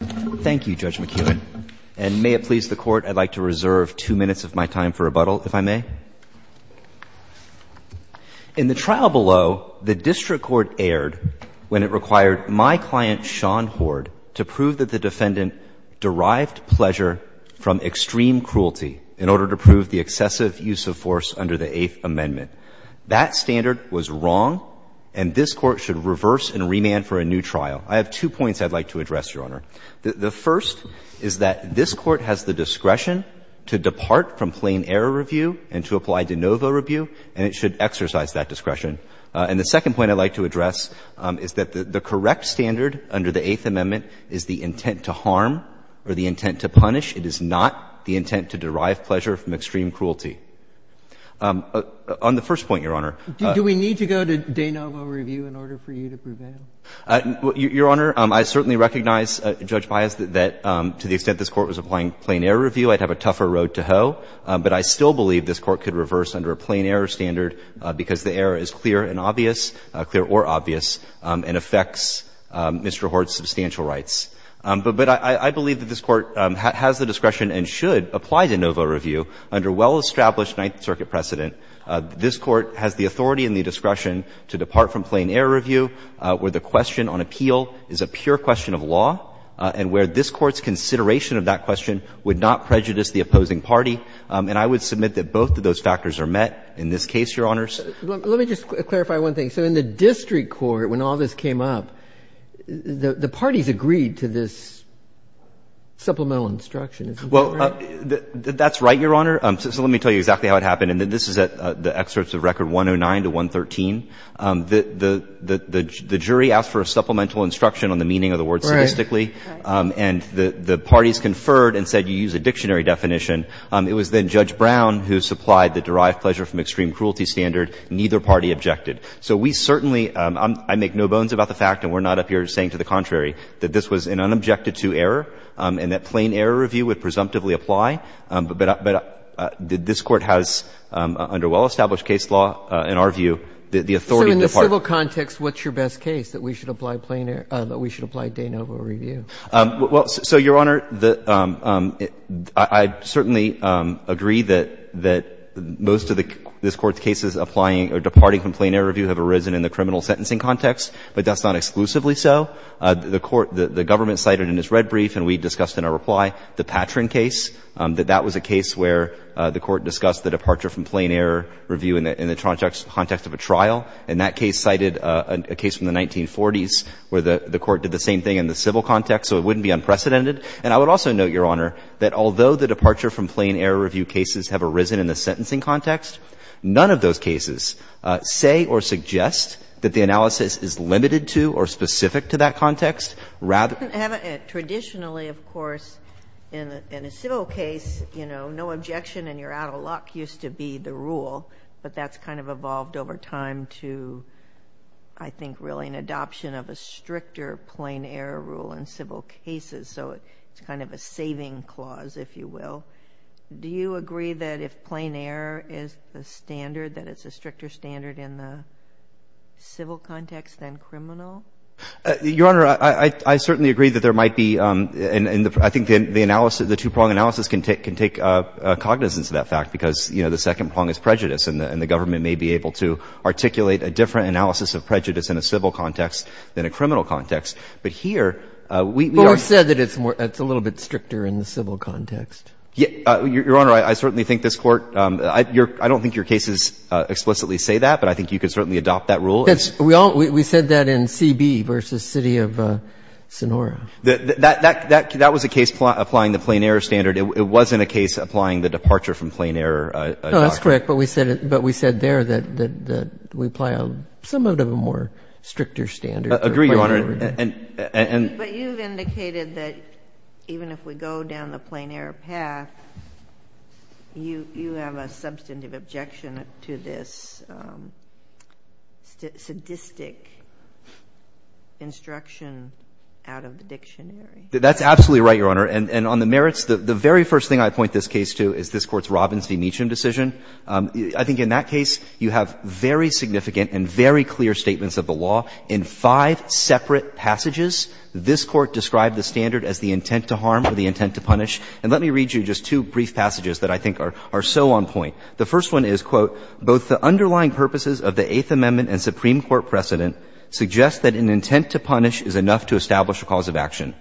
Thank you, Judge McKeown. And may it please the Court, I'd like to reserve two minutes of my time for rebuttal, if I may. In the trial below, the district court erred when it required my client, Sean Hoard, to prove that the defendant derived pleasure from extreme cruelty in order to prove the excessive use of force under the Eighth Amendment. That standard was wrong, and this Court should reverse and remand for a new trial. I have two points I'd like to address, Your Honor. The first is that this Court has the discretion to depart from plain error review and to apply de novo review, and it should exercise that discretion. And the second point I'd like to address is that the correct standard under the Eighth Amendment is the intent to harm or the intent to punish. It is not the intent to derive pleasure from extreme cruelty. On the first point, Your Honor, Sotomayor Do we need to go to de novo review in order for you to prevent it? Your Honor, I certainly recognize, Judge Baez, that to the extent this Court was applying plain error review, I'd have a tougher road to hoe. But I still believe this Court could reverse under a plain error standard because the error is clear and obvious, clear or obvious, and affects Mr. Hoard's substantial rights. But I believe that this Court has the discretion and should apply de novo review under well-established Ninth Circuit precedent. This Court has the authority and the discretion to depart from plain error review where the question on appeal is a pure question of law and where this Court's consideration of that question would not prejudice the opposing party. And I would submit that both of those factors are met in this case, Your Honors. Let me just clarify one thing. So in the district court, when all this came up, the parties agreed to this supplemental instruction. Well, that's right, Your Honor. So let me tell you exactly how it happened. And this is at the excerpts of Record 109 to 113. The jury asked for a supplemental instruction on the meaning of the word statistically. And the parties conferred and said, you use a dictionary definition. It was then Judge Brown who supplied the derived pleasure from extreme cruelty standard. Neither party objected. So we certainly, I make no bones about the fact, and we're not up here saying to the contrary, that this was an unobjected to error and that plain error review would presumptively apply. But this Court has, under well-established case law, in our view, the ability and the authority to depart. So in the civil context, what's your best case that we should apply plain error, that we should apply de novo review? Well, so, Your Honor, I certainly agree that most of this Court's cases applying or departing from plain error review have arisen in the criminal sentencing context, but that's not exclusively so. The Court, the government cited in its red brief, and we discussed in our reply, the Patron case, that that was a case where the Court discussed the departure from plain error review in the context of a trial. And that case cited a case from the 1940s where the Court did the same thing in the civil context, so it wouldn't be unprecedented. And I would also note, Your Honor, that although the departure from plain error review cases have arisen in the sentencing context, none of those cases say or suggest that the analysis is limited to or specific to that context. Rather than the context of a trial. Traditionally, of course, in a civil case, you know, no objection and you're out of luck used to be the rule, but that's kind of evolved over time to, I think, really an adoption of a stricter plain error rule in civil cases. So it's kind of a saving clause, if you will. Do you agree that if plain error is the standard, that it's a stricter standard in the civil context than criminal? Your Honor, I certainly agree that there might be, and I think the analysis, I think analysis can take cognizance of that fact because, you know, the second prong is prejudice and the government may be able to articulate a different analysis of prejudice in a civil context than a criminal context. But here, we are. But we said that it's a little bit stricter in the civil context. Your Honor, I certainly think this Court, I don't think your cases explicitly say that, but I think you could certainly adopt that rule. We said that in CB versus City of Sonora. That was a case applying the plain error standard. It wasn't a case applying the departure from plain error doctrine. No, that's correct. But we said there that we apply somewhat of a more stricter standard. I agree, Your Honor. But you've indicated that even if we go down the plain error path, you have a substantive objection to this sadistic instruction out of the dictionary. That's absolutely right, Your Honor. And on the merits, the very first thing I point this case to is this Court's Robbins v. Meechum decision. I think in that case, you have very significant and very clear statements of the law in five separate passages. This Court described the standard as the intent to harm or the intent to punish. And let me read you just two brief passages that I think are so on point. The first one is, quote, ''Both the underlying purposes of the Eighth Amendment and Supreme Court precedent suggest that an intent to punish is enough to establish a cause of action.''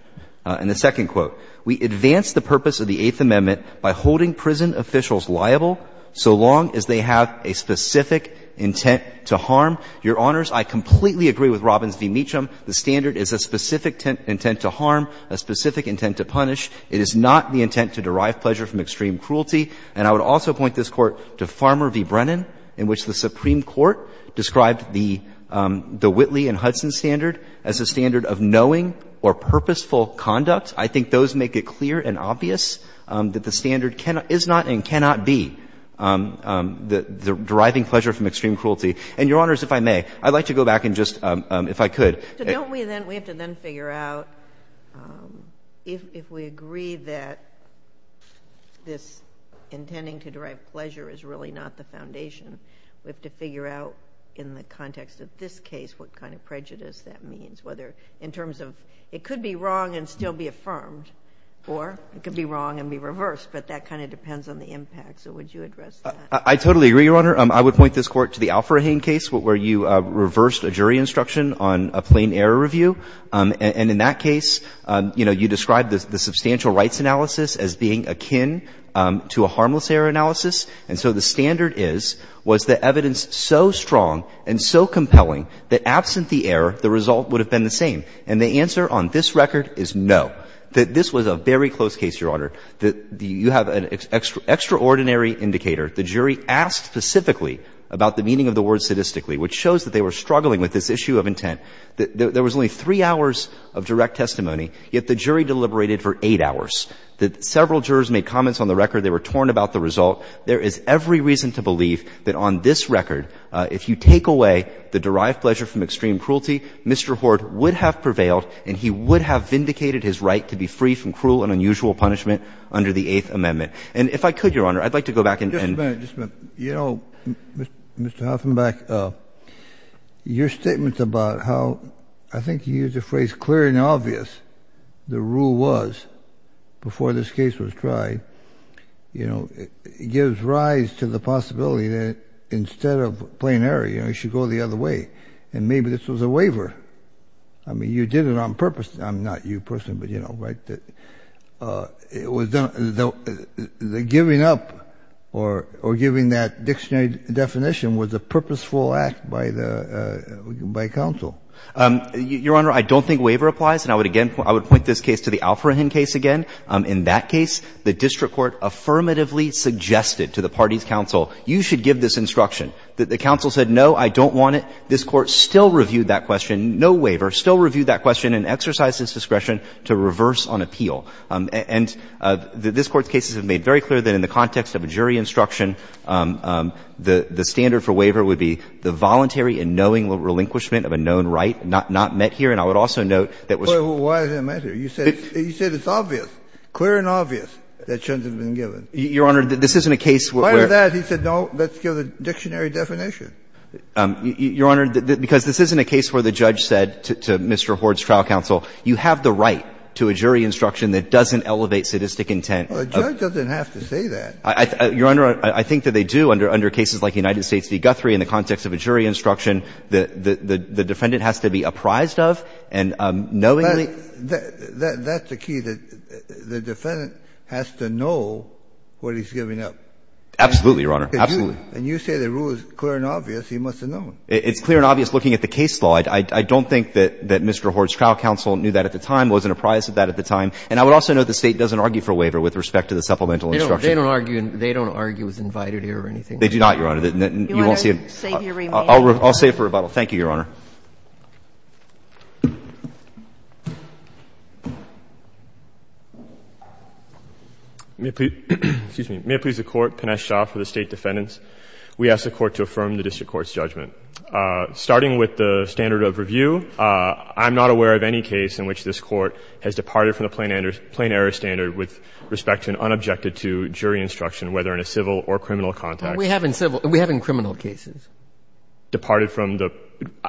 And the second quote, ''We advance the purpose of the Eighth Amendment by holding prison officials liable so long as they have a specific intent to harm.'' Your Honors, I completely agree with Robbins v. Meechum. The standard is a specific intent to harm, a specific intent to punish. It is not the intent to derive pleasure from extreme cruelty. And I would also point this Court to Farmer v. Brennan in which the Supreme Court described the Whitley and Hudson standard as a standard of knowing or purposeful conduct. I think those make it clear and obvious that the standard is not and cannot be deriving pleasure from extreme cruelty. And, Your Honors, if I may, I'd like to go back and just, if I could. So don't we then, we have to then figure out if we agree that this intending to derive pleasure is really not the foundation, we have to figure out in the context of this case what kind of prejudice that means, whether in terms of it could be wrong and still be affirmed, or it could be wrong and be reversed. But that kind of depends on the impact. So would you address that? I totally agree, Your Honor. I would point this Court to the Alfrahan case where you reversed a jury instruction on a plain error review. And in that case, you know, you described the substantial rights analysis as being akin to a harmless error analysis. And so the standard is, was the evidence so strong and so compelling that absent the error, the result would have been the same. And the answer on this record is no. This was a very close case, Your Honor. You have an extraordinary indicator. The jury asked specifically about the meaning of the word sadistically, which shows that they were struggling with this issue of intent. There was only three hours of direct testimony, yet the jury deliberated for eight hours. Several jurors made comments on the record. They were torn about the result. There is every reason to believe that on this record, if you take away the derived pleasure from extreme cruelty, Mr. Hort would have prevailed and he would have vindicated his right to be free from cruel and unusual punishment under the Eighth Amendment. And if I could, Your Honor, I'd like to go back and end. Just a minute. You know, Mr. Hoffenbach, your statement about how, I think you used the phrase clear and obvious, the rule was before this case was tried, you know, it gives rise to the possibility that instead of plain error, you know, you should go the other way. And maybe this was a waiver. I mean, you did it on purpose. I'm not you personally, but you know, right? It was done, the giving up or giving that dictionary definition was a purposeful act by the, by counsel. Your Honor, I don't think waiver applies. And I would again, I would point this case to the Alfrahen case again. In that case, the district court affirmatively suggested to the party's counsel, you should give this instruction. The counsel said, no, I don't want it. This Court still reviewed that question, no waiver, still reviewed that question and exercised its discretion to reverse on appeal. And this Court's cases have made very clear that in the context of a jury instruction, the standard for waiver would be the voluntary and knowing relinquishment of a known right not met here. And I would also note that was. Why is it not met here? You said it's obvious, clear and obvious that shouldn't have been given. Your Honor, this isn't a case where. Why is that? He said, no, let's give the dictionary definition. Your Honor, because this isn't a case where the judge said to Mr. Horde's trial counsel, you have the right to a jury instruction that doesn't elevate sadistic intent. A judge doesn't have to say that. Your Honor, I think that they do under cases like United States v. Guthrie in the context of a jury instruction. The defendant has to be apprised of and knowingly. That's the key, that the defendant has to know what he's giving up. Absolutely, Your Honor. Absolutely. And you say the rule is clear and obvious. He must have known. It's clear and obvious looking at the case law. I don't think that Mr. Horde's trial counsel knew that at the time, wasn't apprised of that at the time. And I would also note the State doesn't argue for a waiver with respect to the supplemental instruction. They don't argue. They don't argue it was invited here or anything. They do not, Your Honor. You won't see it. I'll save it for rebuttal. Thank you, Your Honor. May it please the Court. Pinesh Shah for the State defendants. We ask the Court to affirm the District Court's judgment. Starting with the standard of review, I'm not aware of any case in which this Court has departed from the plain error standard with respect to and unobjected to jury instruction, whether in a civil or criminal context. We have in civil. Departed from the.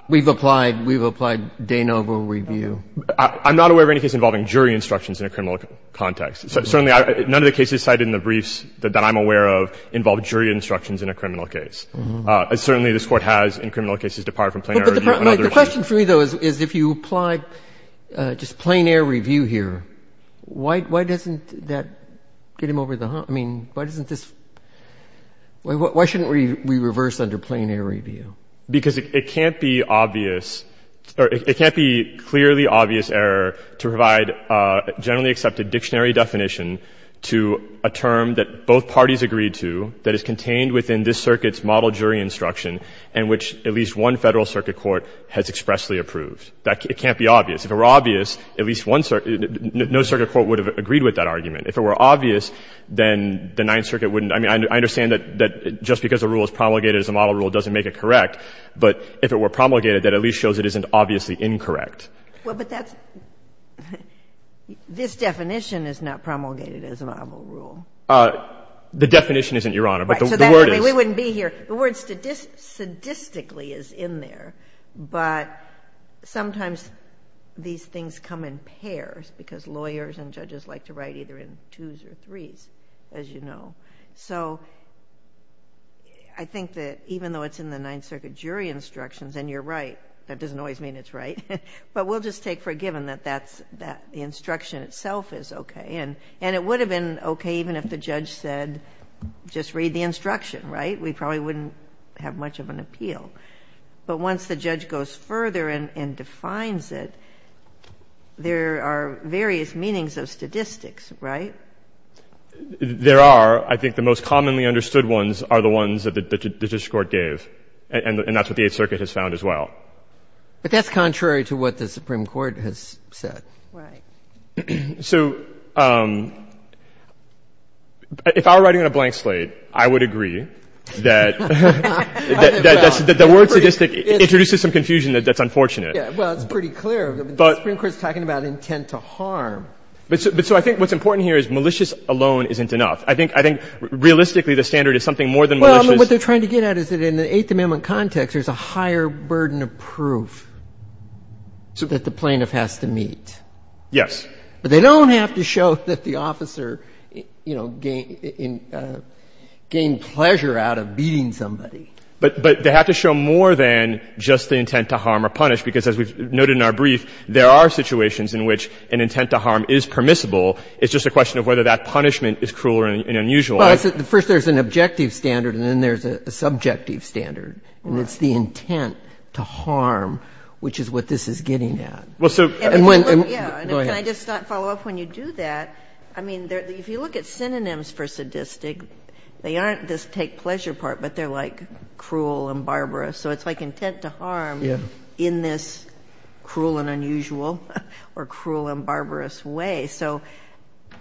We have in criminal cases. We've applied. We've applied de novo review. I'm not aware of any case involving jury instructions in a criminal context. Certainly, none of the cases cited in the briefs that I'm aware of involve jury instructions in a criminal case. Certainly, this Court has, in criminal cases, departed from plain error review. The question for me, though, is if you apply just plain error review here, why doesn't that get him over the hump? I mean, why doesn't this – why shouldn't we reverse under plain error review? Because it can't be obvious – or it can't be clearly obvious error to provide a generally accepted dictionary definition to a term that both parties agreed to that is contained within this Circuit's model jury instruction and which at least one Federal Circuit court has expressly approved. It can't be obvious. If it were obvious, at least one – no Circuit court would have agreed with that argument. If it were obvious, then the Ninth Circuit wouldn't – I mean, I understand that just because a rule is promulgated as a model rule doesn't make it correct, but if it were promulgated, that at least shows it isn't obviously incorrect. Well, but that's – this definition is not promulgated as a model rule. The definition isn't, Your Honor, but the word is. We wouldn't be here. The word sadistically is in there, but sometimes these things come in pairs because lawyers and judges like to write either in twos or threes, as you know. So I think that even though it's in the Ninth Circuit jury instructions and you're right, that doesn't always mean it's right, but we'll just take for given that that's – that the instruction itself is okay. And it would have been okay even if the judge said just read the instruction, right? We probably wouldn't have much of an appeal. But once the judge goes further and defines it, there are various meanings of statistics, right? There are. I think the most commonly understood ones are the ones that the district court gave, and that's what the Eighth Circuit has found as well. But that's contrary to what the Supreme Court has said. Right. So if I were writing on a blank slate, I would agree that the word sadistic introduces some confusion that's unfortunate. Yeah, well, it's pretty clear. The Supreme Court is talking about intent to harm. But so I think what's important here is malicious alone isn't enough. I think realistically the standard is something more than malicious. Well, what they're trying to get at is that in the Eighth Amendment context there's a higher burden of proof that the plaintiff has to meet. Yes. But they don't have to show that the officer, you know, gained pleasure out of beating somebody. But they have to show more than just the intent to harm or punish, because as we've noted in our brief, there are situations in which an intent to harm is permissible. It's just a question of whether that punishment is cruel or unusual. Well, first there's an objective standard, and then there's a subjective standard. And it's the intent to harm which is what this is getting at. Well, so. Go ahead. Can I just follow up? When you do that, I mean, if you look at synonyms for sadistic, they aren't this take pleasure part, but they're like cruel and barbarous. So it's like intent to harm in this cruel and unusual or cruel and barbarous way. So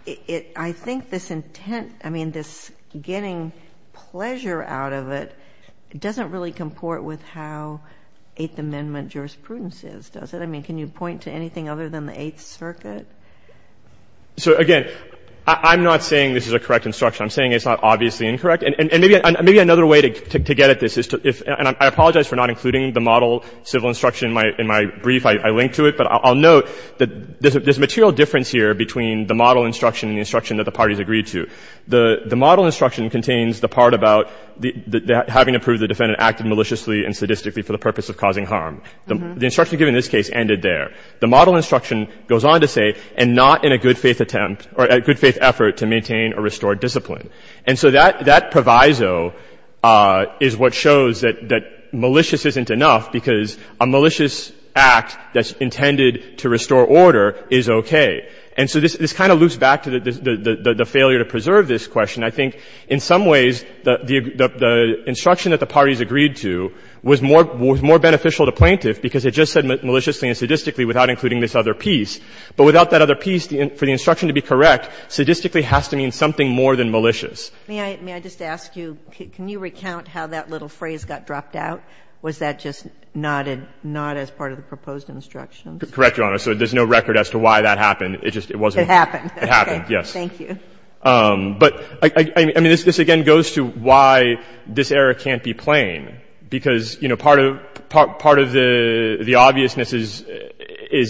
I think this intent, I mean, this getting pleasure out of it doesn't really comport with how Eighth Amendment jurisprudence is, does it? I mean, can you point to anything other than the Eighth Circuit? So, again, I'm not saying this is a correct instruction. I'm saying it's not obviously incorrect. And maybe another way to get at this is to, and I apologize for not including the model civil instruction in my brief. I linked to it. But I'll note that there's a material difference here between the model instruction and the instruction that the parties agreed to. The model instruction contains the part about having to prove the defendant acted maliciously and sadistically for the purpose of causing harm. The instruction given in this case ended there. The model instruction goes on to say, and not in a good faith attempt or a good faith effort to maintain or restore discipline. And so that proviso is what shows that malicious isn't enough because a malicious act that's intended to restore order is okay. And so this kind of loops back to the failure to preserve this question. I think in some ways the instruction that the parties agreed to was more beneficial to plaintiff because it just said maliciously and sadistically without including this other piece. But without that other piece, for the instruction to be correct, sadistically has to mean something more than malicious. May I just ask you, can you recount how that little phrase got dropped out? Was that just not as part of the proposed instruction? Correct, Your Honor. So there's no record as to why that happened. It just wasn't. It happened. It happened, yes. Thank you. But, I mean, this again goes to why this error can't be plain. Because, you know, part of the obviousness is,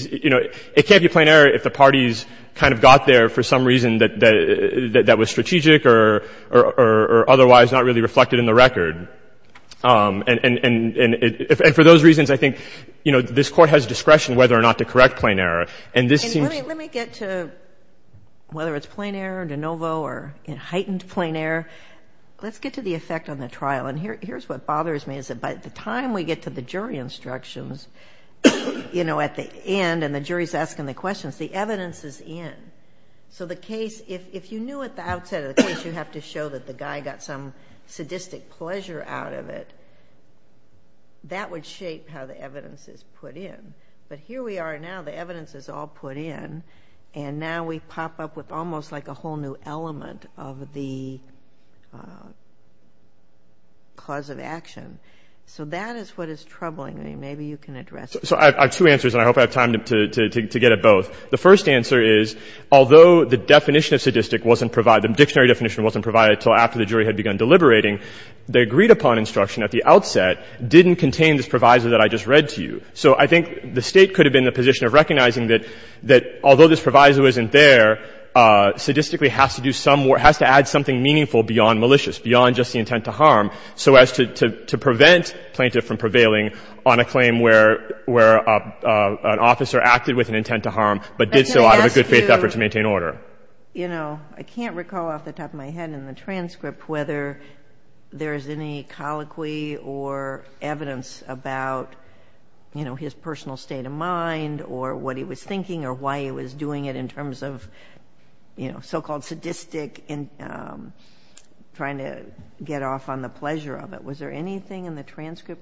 you know, it can't be plain error if the parties kind of got there for some reason that was strategic or otherwise not really reflected in the record. And for those reasons, I think, you know, this Court has discretion whether or not to correct plain error. And this seems... Let me get to whether it's plain error, de novo, or heightened plain error. Let's get to the effect on the trial. And here's what bothers me is that by the time we get to the jury instructions, you know, at the end and the jury's asking the questions, the evidence is in. So the case, if you knew at the outset of the case you have to show that the guy got some sadistic pleasure out of it, that would shape how the evidence is put in. But here we are now. The evidence is all put in. And now we pop up with almost like a whole new element of the cause of action. So that is what is troubling me. Maybe you can address it. So I have two answers, and I hope I have time to get at both. The first answer is, although the definition of sadistic wasn't provided, the dictionary definition wasn't provided until after the jury had begun deliberating, the agreed-upon instruction at the outset didn't contain this proviso that I just read to you. So I think the State could have been in the position of recognizing that although this proviso isn't there, sadistically has to do some more, has to add something meaningful beyond malicious, beyond just the intent to harm, so as to prevent the plaintiff from prevailing on a claim where an officer acted with an intent to harm, but did so out of a good-faith effort to maintain order. I can't recall off the top of my head in the transcript whether there is any colloquy or evidence about his personal state of mind or what he was thinking or why he was doing it in terms of so-called sadistic, trying to get off on the pleasure of it. Was there anything in the transcript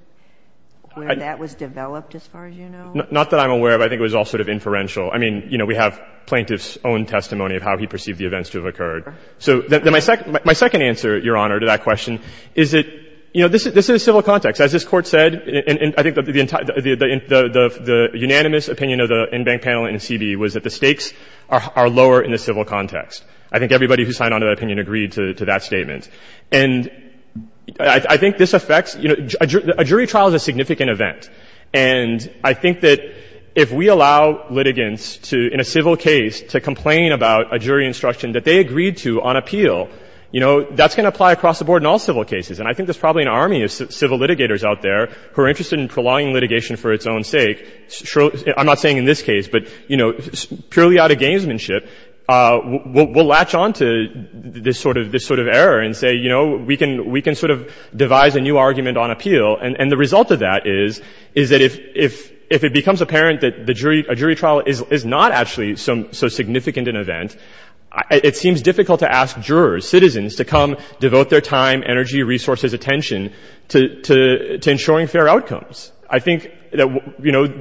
where that was developed, as far as you know? Not that I'm aware of. I think it was all sort of inferential. I mean, you know, we have plaintiff's own testimony of how he perceived the events to have occurred. So my second answer, Your Honor, to that question is that, you know, this is civil context. As this Court said, and I think the unanimous opinion of the in-bank panel in C.B.E. was that the stakes are lower in the civil context. I think everybody who signed on to that opinion agreed to that statement. And I think this affects, you know, a jury trial is a significant event. And I think that if we allow litigants to, in a civil case, to complain about a jury instruction that they agreed to on appeal, you know, that's going to apply across the board in all civil cases. And I think there's probably an army of civil litigators out there who are interested in prolonging litigation for its own sake. I'm not saying in this case, but, you know, purely out of gamesmanship, we'll latch on to this sort of error and say, you know, we can sort of devise a new argument on appeal. And the result of that is that if it becomes apparent that a jury trial is not actually so significant an event, it seems difficult to ask jurors, citizens, to come devote their time, energy, resources, attention to ensuring fair outcomes. I think that, you know,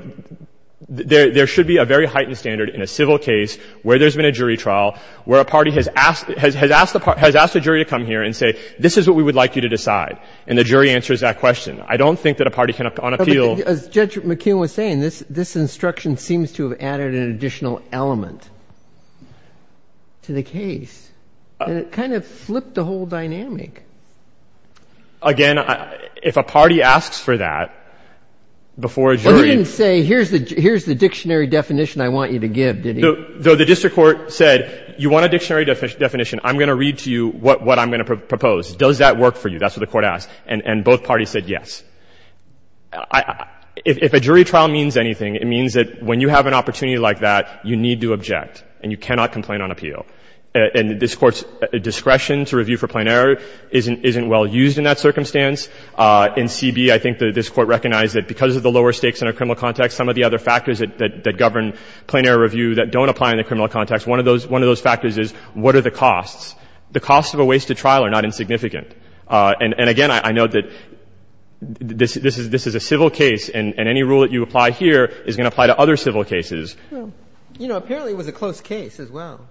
there should be a very heightened standard in a civil case where there's been a jury trial, where a party has asked a jury to come here and say, this is what we would like you to decide. And the jury answers that question. I don't think that a party can, on appeal. As Judge McKeon was saying, this instruction seems to have added an additional element to the case. And it kind of flipped the whole dynamic. Again, if a party asks for that before a jury. Well, he didn't say, here's the dictionary definition I want you to give, did he? Though the district court said, you want a dictionary definition. I'm going to read to you what I'm going to propose. Does that work for you? That's what the court asked. And both parties said yes. If a jury trial means anything, it means that when you have an opportunity like that, you need to object, and you cannot complain on appeal. And this Court's discretion to review for plain error isn't well used in that circumstance. In CB, I think this Court recognized that because of the lower stakes in a criminal context, some of the other factors that govern plain error review that don't apply in the criminal context, one of those factors is, what are the costs? The costs of a wasted trial are not insignificant. And again, I note that this is a civil case, and any rule that you apply here is going to apply to other civil cases. You know, apparently it was a close case as well.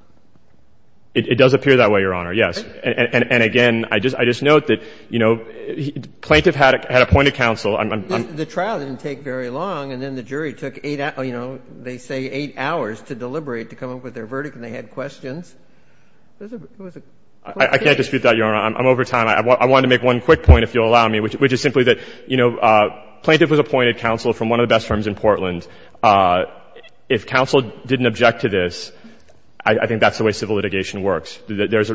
It does appear that way, Your Honor, yes. And again, I just note that, you know, the plaintiff had a point of counsel. The trial didn't take very long, and then the jury took eight, you know, they say eight hours to deliberate, to come up with their verdict, and they had questions. It was a close case. I can't dispute that, Your Honor. I'm over time. I want to make one quick point, if you'll allow me, which is simply that, you know, plaintiff was appointed counsel from one of the best firms in Portland. If counsel didn't object to this, I think that's the way civil litigation works. There's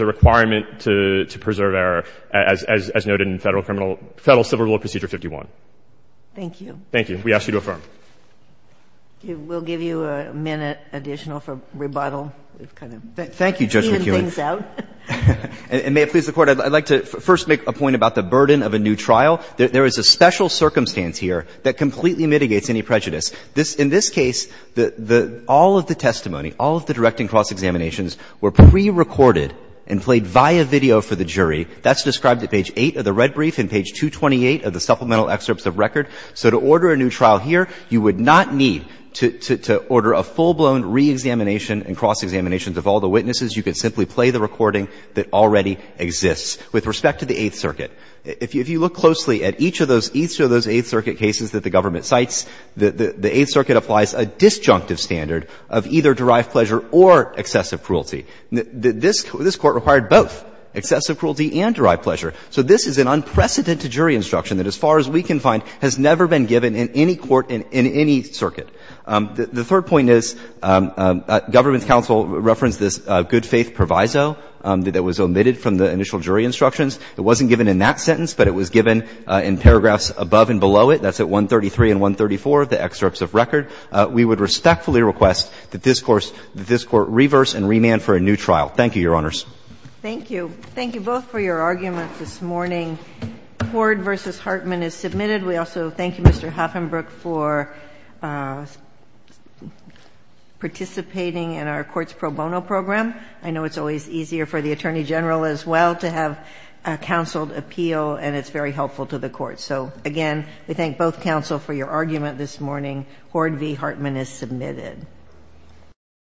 a requirement to preserve error, as noted in Federal Civil Law Procedure 151. Thank you. Thank you. We ask you to affirm. We'll give you a minute additional for rebuttal. Thank you, Judge McKeon. And may it please the Court. I'd like to first make a point about the burden of a new trial. There is a special circumstance here that completely mitigates any prejudice. In this case, all of the testimony, all of the direct and cross examinations were prerecorded and played via video for the jury. That's described at page 8 of the red brief and page 228 of the supplemental excerpts of record. So to order a new trial here, you would not need to order a full-blown reexamination and cross examinations of all the witnesses. You could simply play the recording that already exists. With respect to the Eighth Circuit, if you look closely at each of those Eighth Circuit cases that the government cites, the Eighth Circuit applies a disjunctive standard of either derived pleasure or excessive cruelty. This Court required both, excessive cruelty and derived pleasure. So this is an unprecedented jury instruction that, as far as we can find, has never been given in any court in any circuit. The third point is, government counsel referenced this good-faith proviso that was omitted from the initial jury instructions. It wasn't given in that sentence, but it was given in paragraphs above and below it. That's at 133 and 134 of the excerpts of record. We would respectfully request that this Court reverse and remand for a new trial. Thank you, Your Honors. Thank you. Thank you both for your arguments this morning. Hoard v. Hartman is submitted. We also thank you, Mr. Haffenberg, for participating in our Courts Pro Bono program. I know it's always easier for the Attorney General as well to have a counseled appeal, and it's very helpful to the Court. So again, we thank both counsel for your argument this morning. Hoard v. Hartman is submitted.